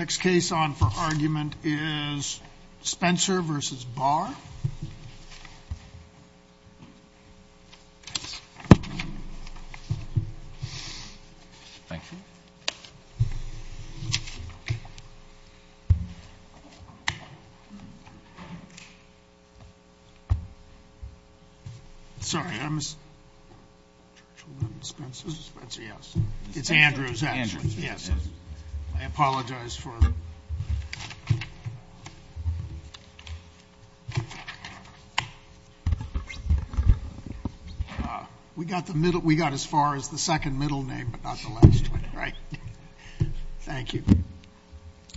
The next case on for argument is Spencer v. Barr. Spencer v. Barr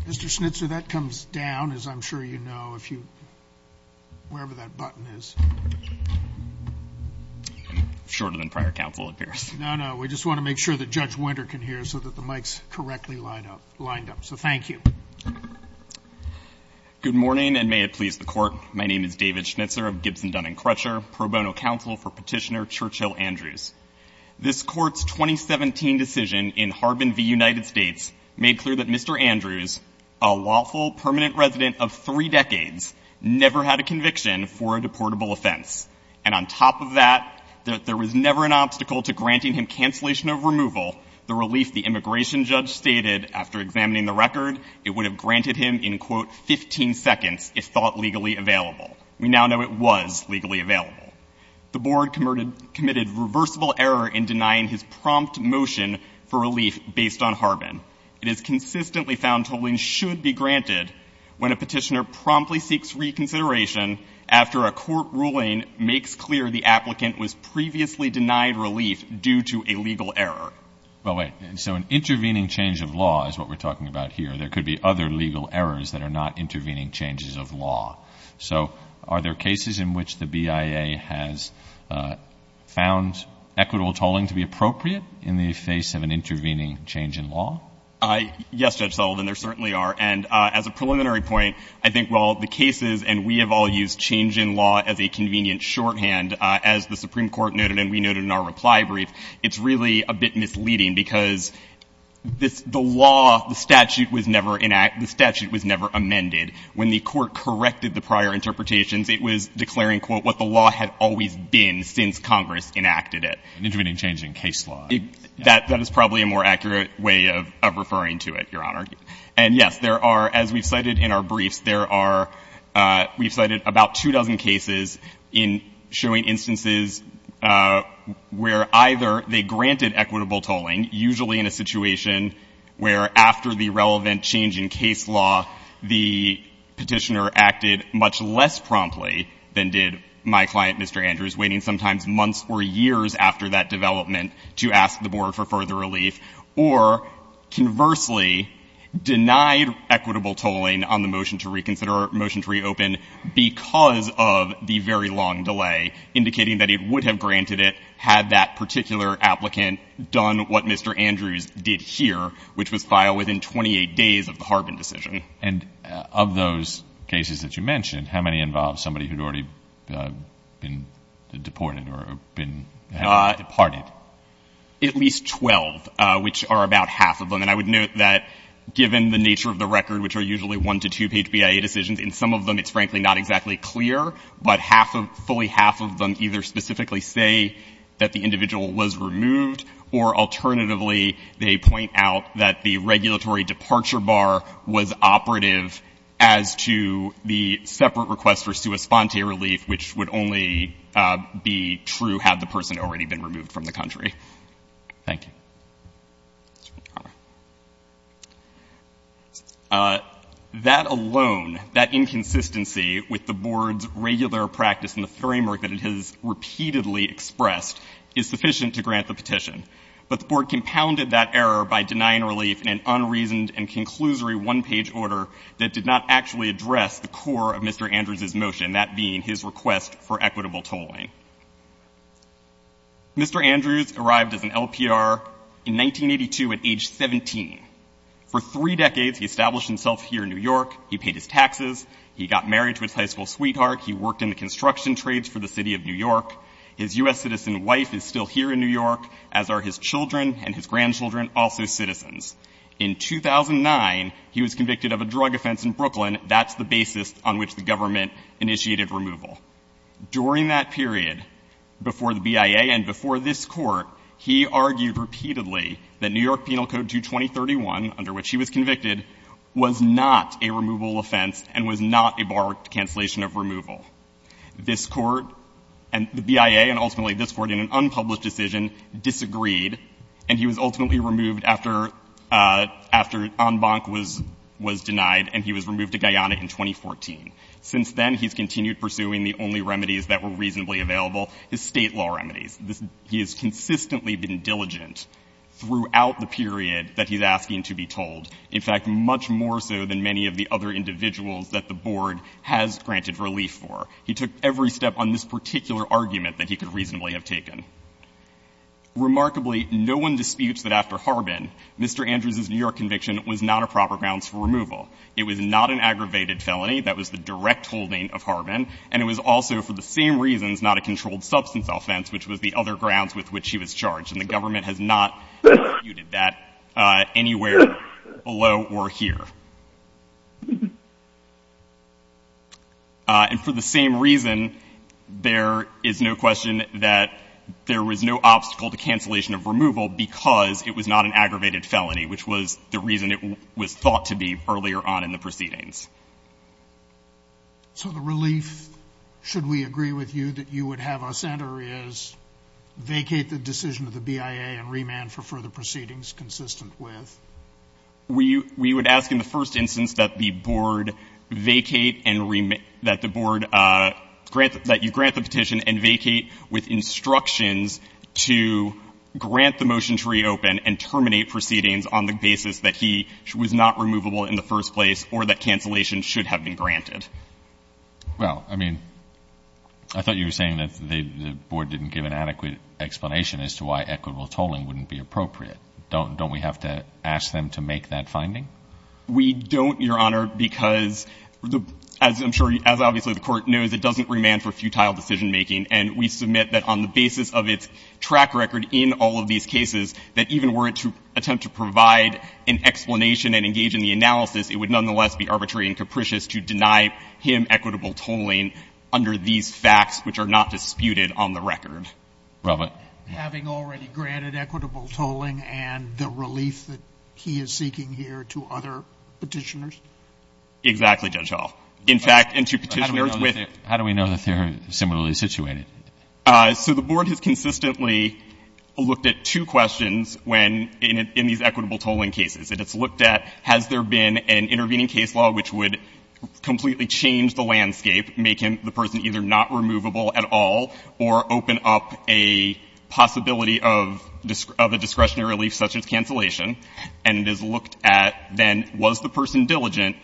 Mr. Schnitzer, that comes down, as I'm sure you know, if you, wherever that button is. It's shorter than prior counsel, it appears. No, no, we just want to make sure that Judge Winter can hear so that the mics correctly lined up. So thank you. Good morning, and may it please the Court. My name is David Schnitzer of Gibson, Dunn & Crutcher, pro bono counsel for Petitioner Churchill Andrews. This Court's 2017 decision in Harbin v. United States made clear that Mr. Andrews, a lawful permanent resident of three decades, never had a conviction for a deportable offense. And on top of that, there was never an obstacle to granting him cancellation of removal, the relief the immigration judge stated after examining the record it would have granted him in, quote, 15 seconds if thought legally available. We now know it was legally available. The Board committed reversible error in denying his prompt motion for relief based on Harbin. It is consistently found tolling should be granted when a petitioner promptly seeks reconsideration after a court ruling makes clear the applicant was previously denied relief due to a legal error. Well, wait, so an intervening change of law is what we're talking about here. There could be other legal errors that are not intervening changes of law. So are there cases in which the BIA has found equitable tolling to be appropriate in the face of an intervening change in law? Yes, Judge Sullivan, there certainly are. And as a preliminary point, I think while the cases and we have all used change in law as a convenient shorthand, as the Supreme Court noted and we noted in our reply brief, it's really a bit misleading because the law, the statute was never enacted, the statute was never amended. When the Court corrected the prior interpretations, it was declaring, quote, what the law had always been since Congress enacted it. An intervening change in case law. That is probably a more accurate way of referring to it, Your Honor. And yes, there are, as we've cited in our briefs, there are, we've cited about two dozen cases in showing instances where either they granted equitable tolling, usually in a situation where after the relevant change in case law, the petitioner acted much less promptly than did my client, Mr. Andrews, waiting sometimes months or years after that development to ask the Board for further relief. Or conversely, denied equitable tolling on the motion to reconsider, motion to reopen because of the very long delay, indicating that it would have granted it had that particular applicant done what Mr. Andrews did here, which was file within 28 days of the Harbin decision. And of those cases that you mentioned, how many involved somebody who had already been deported or been, had departed? At least 12, which are about half of them. And I would note that given the nature of the record, which are usually one- to two-page BIA decisions, in some of them it's frankly not exactly clear, but half of, fully half of them either specifically say that the individual was removed, or alternatively, they point out that the regulatory departure bar was operative as to the separate request for sua sponte relief, which would only be true had the person already been removed from the country. Thank you. That alone, that inconsistency with the Board's regular practice and the framework that it has repeatedly expressed is sufficient to grant the petition. But the Board compounded that error by denying relief in an unreasoned and conclusory one-page order that did not actually address the core of Mr. Andrews' motion, that being his request for equitable tolling. Mr. Andrews arrived as an LPR in 1982 at age 17. For three decades, he established himself here in New York. He paid his taxes. He got married to his high school sweetheart. He worked in the construction trades for the City of New York. His U.S. citizen wife is still here in New York, as are his children and his grandchildren, also citizens. In 2009, he was convicted of a drug offense in Brooklyn. That's the basis on which the government initiated removal. During that period, before the BIA and before this Court, he argued repeatedly that New York Penal Code 22031, under which he was convicted, was not a removal offense and was not a barred cancellation of removal. This Court and the BIA, and ultimately this Court, in an unpublished decision, disagreed, and he was ultimately removed after Anbanc was denied and he was removed to Guyana in 2014. Since then, he's continued pursuing the only remedies that were reasonably available, his State law remedies. He has consistently been diligent throughout the period that he's asking to be tolled, in fact, much more so than many of the other individuals that the Board has granted relief for. He took every step on this particular argument that he could reasonably have taken. Remarkably, no one disputes that after Harbin, Mr. Andrews' New York conviction was not a proper grounds for removal. It was not an aggravated felony. That was the direct holding of Harbin. And it was also, for the same reasons, not a controlled substance offense, which was the other grounds with which he was charged. And the government has not disputed that anywhere below or here. And for the same reason, there is no question that there was no obstacle to cancellation of removal because it was not an aggravated felony, which was the reason it was thought to be earlier on in the proceedings. So the relief, should we agree with you, that you would have us enter is vacate the decision of the BIA and remand for further proceedings consistent with? We would ask in the first instance that the Board vacate and remand, that the Board grant, that you grant the petition and vacate with instructions to grant the motion to reopen and terminate proceedings on the basis that he was not removable in the first place or that cancellation should have been granted. Well, I mean, I thought you were saying that the Board didn't give an adequate explanation as to why equitable tolling wouldn't be appropriate. Don't we have to ask them to make that finding? We don't, Your Honor, because, as I'm sure, as obviously the Court knows, it doesn't remand for futile decisionmaking. And we submit that on the basis of its track record in all of these cases, that even were it to attempt to provide an explanation and engage in the analysis, it would nonetheless be arbitrary and capricious to deny him equitable tolling under these facts, which are not disputed on the record. Robert. Having already granted equitable tolling and the relief that he is seeking here to other Petitioners? Exactly, Judge Hall. In fact, and to Petitioners with — So the Board has consistently looked at two questions when — in these equitable tolling cases. It has looked at has there been an intervening case law which would completely change the landscape, making the person either not removable at all or open up a possibility of a discretionary relief such as cancellation. And it has looked at then was the person diligent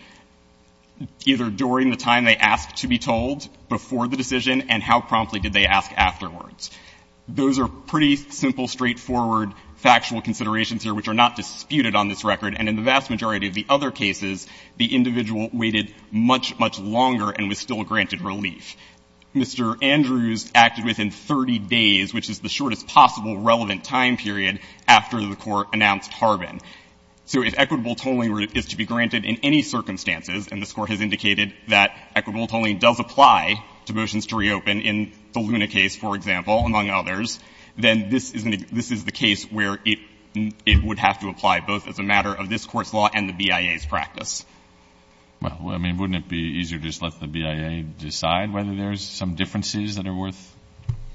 either during the time they asked to be told before the decision and how promptly did they ask afterwards. Those are pretty simple, straightforward, factual considerations here which are not disputed on this record. And in the vast majority of the other cases, the individual waited much, much longer and was still granted relief. Mr. Andrews acted within 30 days, which is the shortest possible relevant time period, after the Court announced Harbin. So if equitable tolling is to be granted in any circumstances, and this Court has indicated that equitable tolling does apply to motions to reopen in the Luna case, for example, among others, then this is the case where it would have to apply both as a matter of this Court's law and the BIA's practice. Well, I mean, wouldn't it be easier to just let the BIA decide whether there's some differences that are worth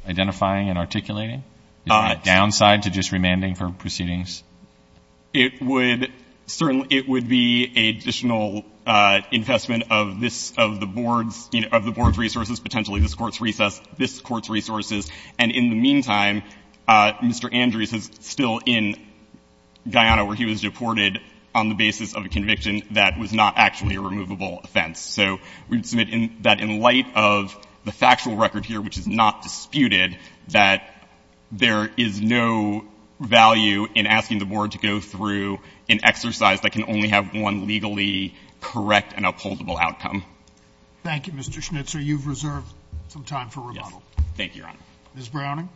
identifying and articulating? Is there a downside to just remanding for proceedings? It would certainly be an additional infestment of this, of the Board's, you know, of the Board's resources, potentially this Court's recess, this Court's resources. And in the meantime, Mr. Andrews is still in Guyana where he was deported on the basis of a conviction that was not actually a removable offense. So we would submit that in light of the factual record here, which is not disputed, that there is no value in asking the Board to go through an exercise that can only have one legally correct and upholdable outcome. Thank you, Mr. Schnitzer. You've reserved some time for rebuttal. Thank you, Your Honor. Ms. Browning.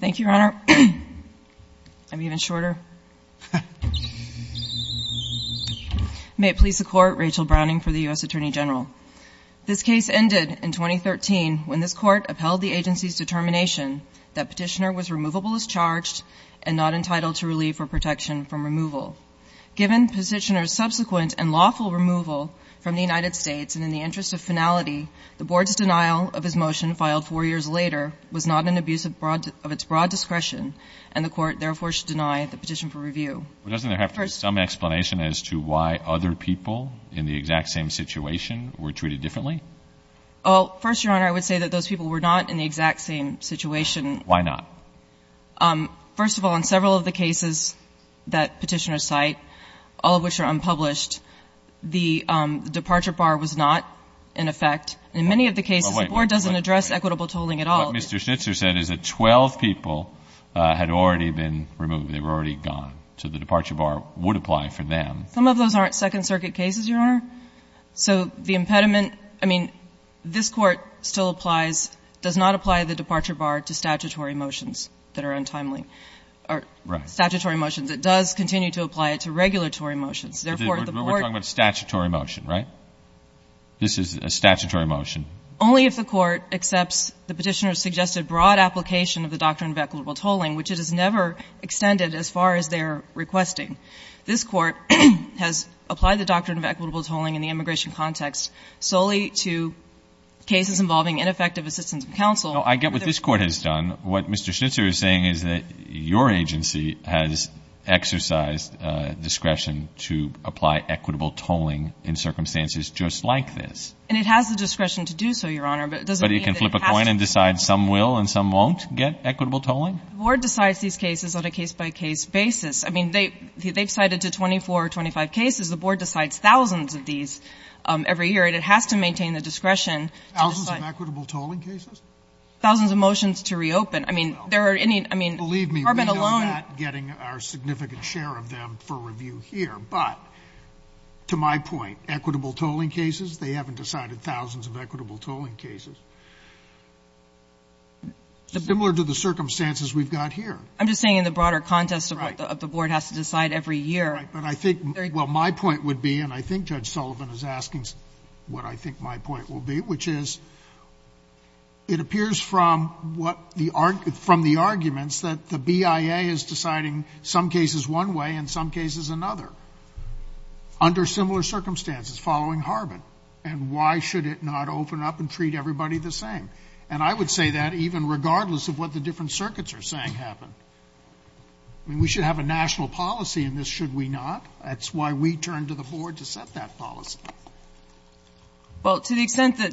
Thank you, Your Honor. I'm even shorter. May it please the Court, Rachel Browning for the U.S. Attorney General. This case ended in 2013 when this Court upheld the agency's determination that Petitioner was removable as charged and not entitled to relief or protection from removal. Given Petitioner's subsequent and lawful removal from the United States and in the interest of finality, the Board's denial of his motion filed four years later was not an abuse of its broad discretion, and the Court therefore should deny the petition for review. Well, doesn't there have to be some explanation as to why other people in the exact same situation were treated differently? Well, first, Your Honor, I would say that those people were not in the exact same situation. Why not? First of all, in several of the cases that Petitioner cite, all of which are unpublished, the departure bar was not in effect. In many of the cases, the Board doesn't address equitable tolling at all. What Mr. Schnitzer said is that 12 people had already been removed. They were already gone. So the departure bar would apply for them. Some of those aren't Second Circuit cases, Your Honor. So the impediment, I mean, this Court still applies, does not apply the departure bar to statutory motions that are untimely. Right. Statutory motions. It does continue to apply it to regulatory motions. Therefore, the Board — We're talking about a statutory motion, right? This is a statutory motion. Only if the Court accepts the Petitioner's suggested broad application of the doctrine of equitable tolling, which it has never extended as far as they're requesting. This Court has applied the doctrine of equitable tolling in the immigration context solely to cases involving ineffective assistance of counsel. No, I get what this Court has done. What Mr. Schnitzer is saying is that your agency has exercised discretion to apply equitable tolling in circumstances just like this. And it has the discretion to do so, Your Honor, but it doesn't mean that it has to. But it can flip a coin and decide some will and some won't get equitable tolling? The Board decides these cases on a case-by-case basis. I mean, they've cited to 24 or 25 cases. The Board decides thousands of these every year, and it has to maintain the discretion to decide — Thousands of equitable tolling cases? Thousands of motions to reopen. I mean, there are any — Believe me, we're not getting our significant share of them for review here. But to my point, equitable tolling cases, they haven't decided thousands of equitable tolling cases. Similar to the circumstances we've got here. I'm just saying in the broader context of what the Board has to decide every year. Right. But I think — well, my point would be, and I think Judge Sullivan is asking what I think my point will be, which is it appears from what the — from the arguments that the BIA is deciding some cases one way and some cases another under similar circumstances following Harbin. And why should it not open up and treat everybody the same? And I would say that even regardless of what the different circuits are saying happen. I mean, we should have a national policy in this, should we not? That's why we turned to the Board to set that policy. Well, to the extent that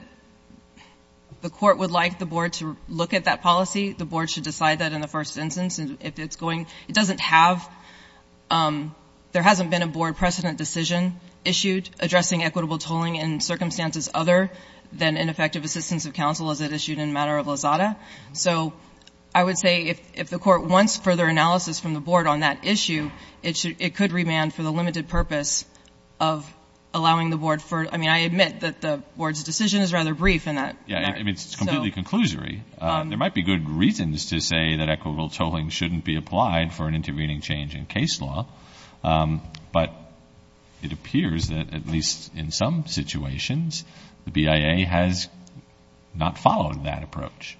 the Court would like the Board to look at that policy, the Board should decide that in the first instance. If it's going — it doesn't have — there hasn't been a Board precedent decision issued addressing equitable tolling in circumstances other than ineffective assistance of counsel, as it issued in the matter of Lozada. So I would say if the Court wants further analysis from the Board on that issue, it could remand for the limited purpose of allowing the Board for — I mean, I admit that the Board's decision is rather brief in that regard. Yeah. I mean, it's completely conclusory. There might be good reasons to say that equitable tolling shouldn't be applied for an intervening change in case law. But it appears that, at least in some situations, the BIA has not followed that approach.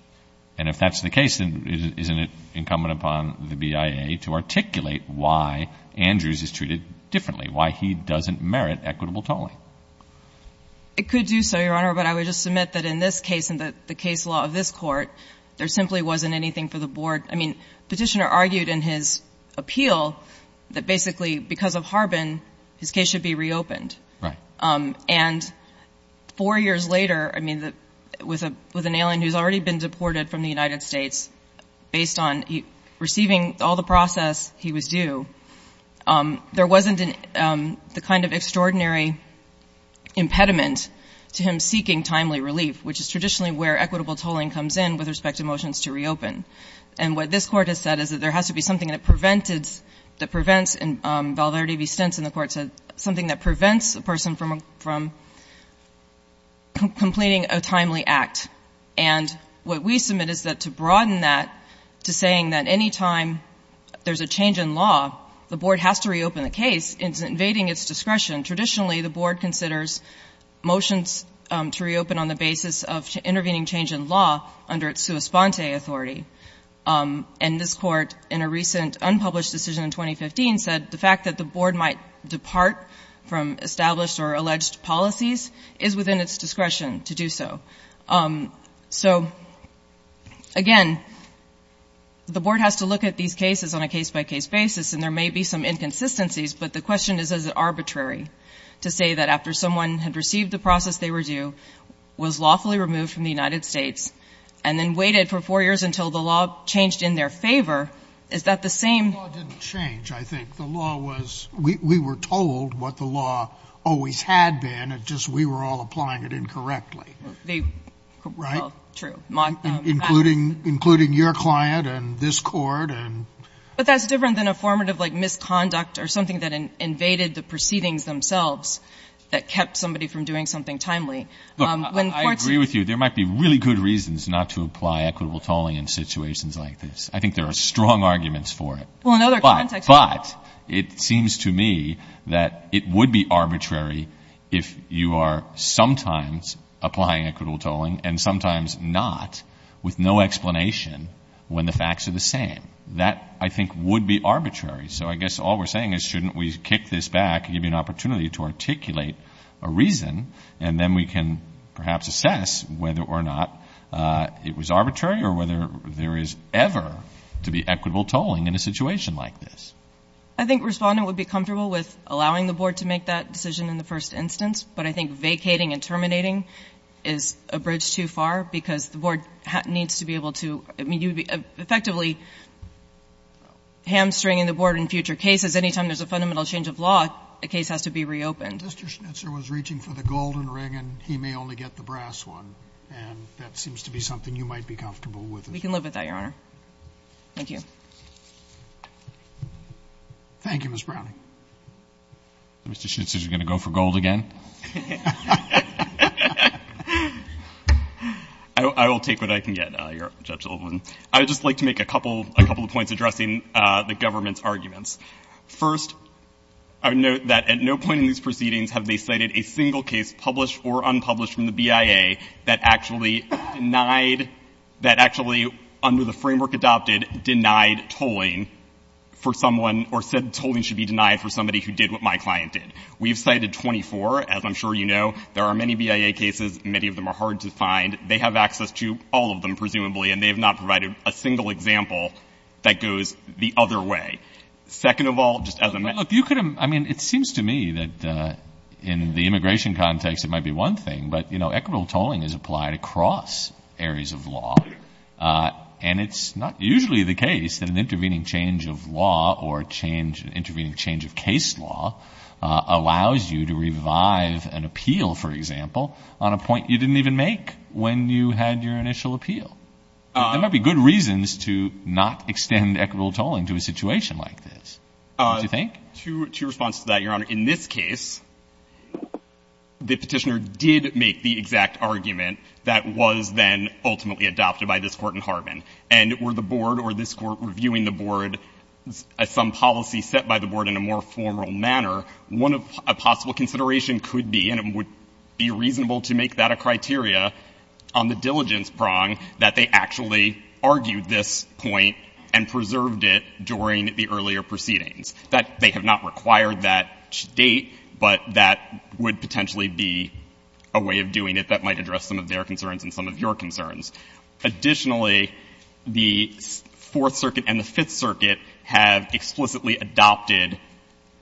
And if that's the case, then isn't it incumbent upon the BIA to articulate why Andrews is treated differently, why he doesn't merit equitable tolling? It could do so, Your Honor. But I would just submit that in this case and the case law of this Court, there simply wasn't anything for the Board — I mean, Petitioner argued in his appeal that basically because of Harbin, his case should be reopened. Right. And four years later, I mean, with an alien who's already been deported from the United States, based on receiving all the process, he was due, there wasn't the kind of extraordinary impediment to him seeking timely relief, which is traditionally where equitable tolling comes in with respect to motions to reopen. And what this Court has said is that there has to be something that prevented — that prevents, in Valverde v. Stentzen, the Court said, something that prevents a person from completing a timely act. And what we submit is that to broaden that to saying that any time there's a change in law, the Board has to reopen the case, it's invading its discretion. Traditionally, the Board considers motions to reopen on the basis of intervening change in law under its sua sponte authority. And this Court, in a recent unpublished decision in 2015, said the fact that the Board might depart from established or alleged policies is within its discretion to do so. So, again, the Board has to look at these cases on a case-by-case basis, and there may be some inconsistencies, but the question is, is it arbitrary to say that after someone had received the process they were due, was lawfully removed from the United States, and then waited for four years until the law changed in their favor, is that the same? Sotomayor. The law didn't change, I think. The law was — we were told what the law always had been. It's just we were all applying it incorrectly. Right? Well, true. Including — including your client and this Court and — But that's different than a formative, like, misconduct or something that invaded the proceedings themselves that kept somebody from doing something timely. Look, I agree with you. There might be really good reasons not to apply equitable tolling in situations like this. I think there are strong arguments for it. Well, in other contexts — But it seems to me that it would be arbitrary if you are sometimes applying equitable tolling and sometimes not, with no explanation, when the facts are the same. That, I think, would be arbitrary. So I guess all we're saying is shouldn't we kick this back and give you an opportunity to articulate a reason, and then we can perhaps assess whether or not it was arbitrary or whether there is ever to be equitable tolling in a situation like this. I think Respondent would be comfortable with allowing the Board to make that decision in the first instance, but I think vacating and terminating is a bridge too far because the Board needs to be able to — I mean, you would be effectively hamstringing the Board in future cases. Anytime there's a fundamental change of law, a case has to be reopened. Mr. Schnitzer was reaching for the golden ring, and he may only get the brass one, and that seems to be something you might be comfortable with. We can live with that, Your Honor. Thank you. Thank you, Ms. Browning. Mr. Schnitzer, you're going to go for gold again? I will take what I can get, Judge Littleman. I would just like to make a couple of points addressing the government's arguments. First, I would note that at no point in these proceedings have they cited a single case, published or unpublished from the BIA, that actually denied — that actually under the framework adopted denied tolling for someone or said tolling should be denied for somebody who did what my client did. We've cited 24. As I'm sure you know, there are many BIA cases. Many of them are hard to find. They have access to all of them, presumably, and they have not provided a single example that goes the other way. Second of all, just as a — Look, you could — I mean, it seems to me that in the immigration context it might be one thing, but, you know, equitable tolling is applied across areas of law, and it's not usually the case that an intervening change of law or change — an intervening change of case law allows you to revive an appeal, for example, on a point you didn't even make when you had your initial appeal. There might be good reasons to not extend equitable tolling to a situation like this, don't you think? To your response to that, Your Honor, in this case, the Petitioner did make the exact argument that was then ultimately adopted by this Court in Harbin, and were the board or this Court reviewing the board as some policy set by the board in a more formal manner, one of — a possible consideration could be, and it would be reasonable to make that a criteria on the diligence prong, that they actually argued this point and preserved it during the earlier proceedings. That they have not required that date, but that would potentially be a way of doing it that might address some of their concerns and some of your concerns. Additionally, the Fourth Circuit and the Fifth Circuit have explicitly adopted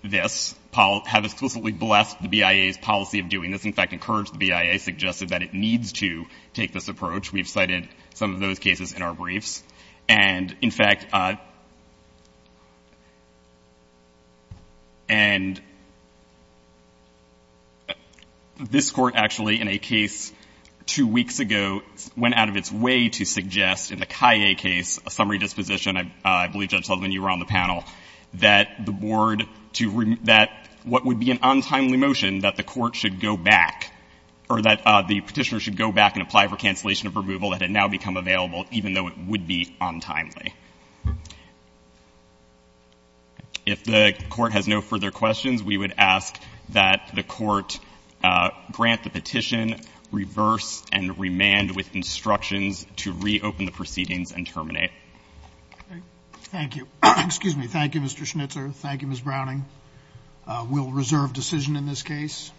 this — have explicitly blessed the BIA's policy of doing this. In fact, encouraged the BIA, suggested that it needs to take this approach. We've cited some of those cases in our briefs. And, in fact — and this Court actually, in a case two weeks ago, went out of its way to suggest in the Kaye case, a summary disposition, I believe, Judge Sutherland, you were on the panel, that the board to — that what would be an untimely motion that the Court should go back, or that the Petitioner should go back and apply for cancellation of removal that had now become available, even though it would be untimely. If the Court has no further questions, we would ask that the Court grant the petition, reverse, and remand with instructions to reopen the proceedings and terminate. Thank you. Excuse me. Thank you, Mr. Schnitzer. Thank you, Ms. Browning. We'll reserve decision in this case.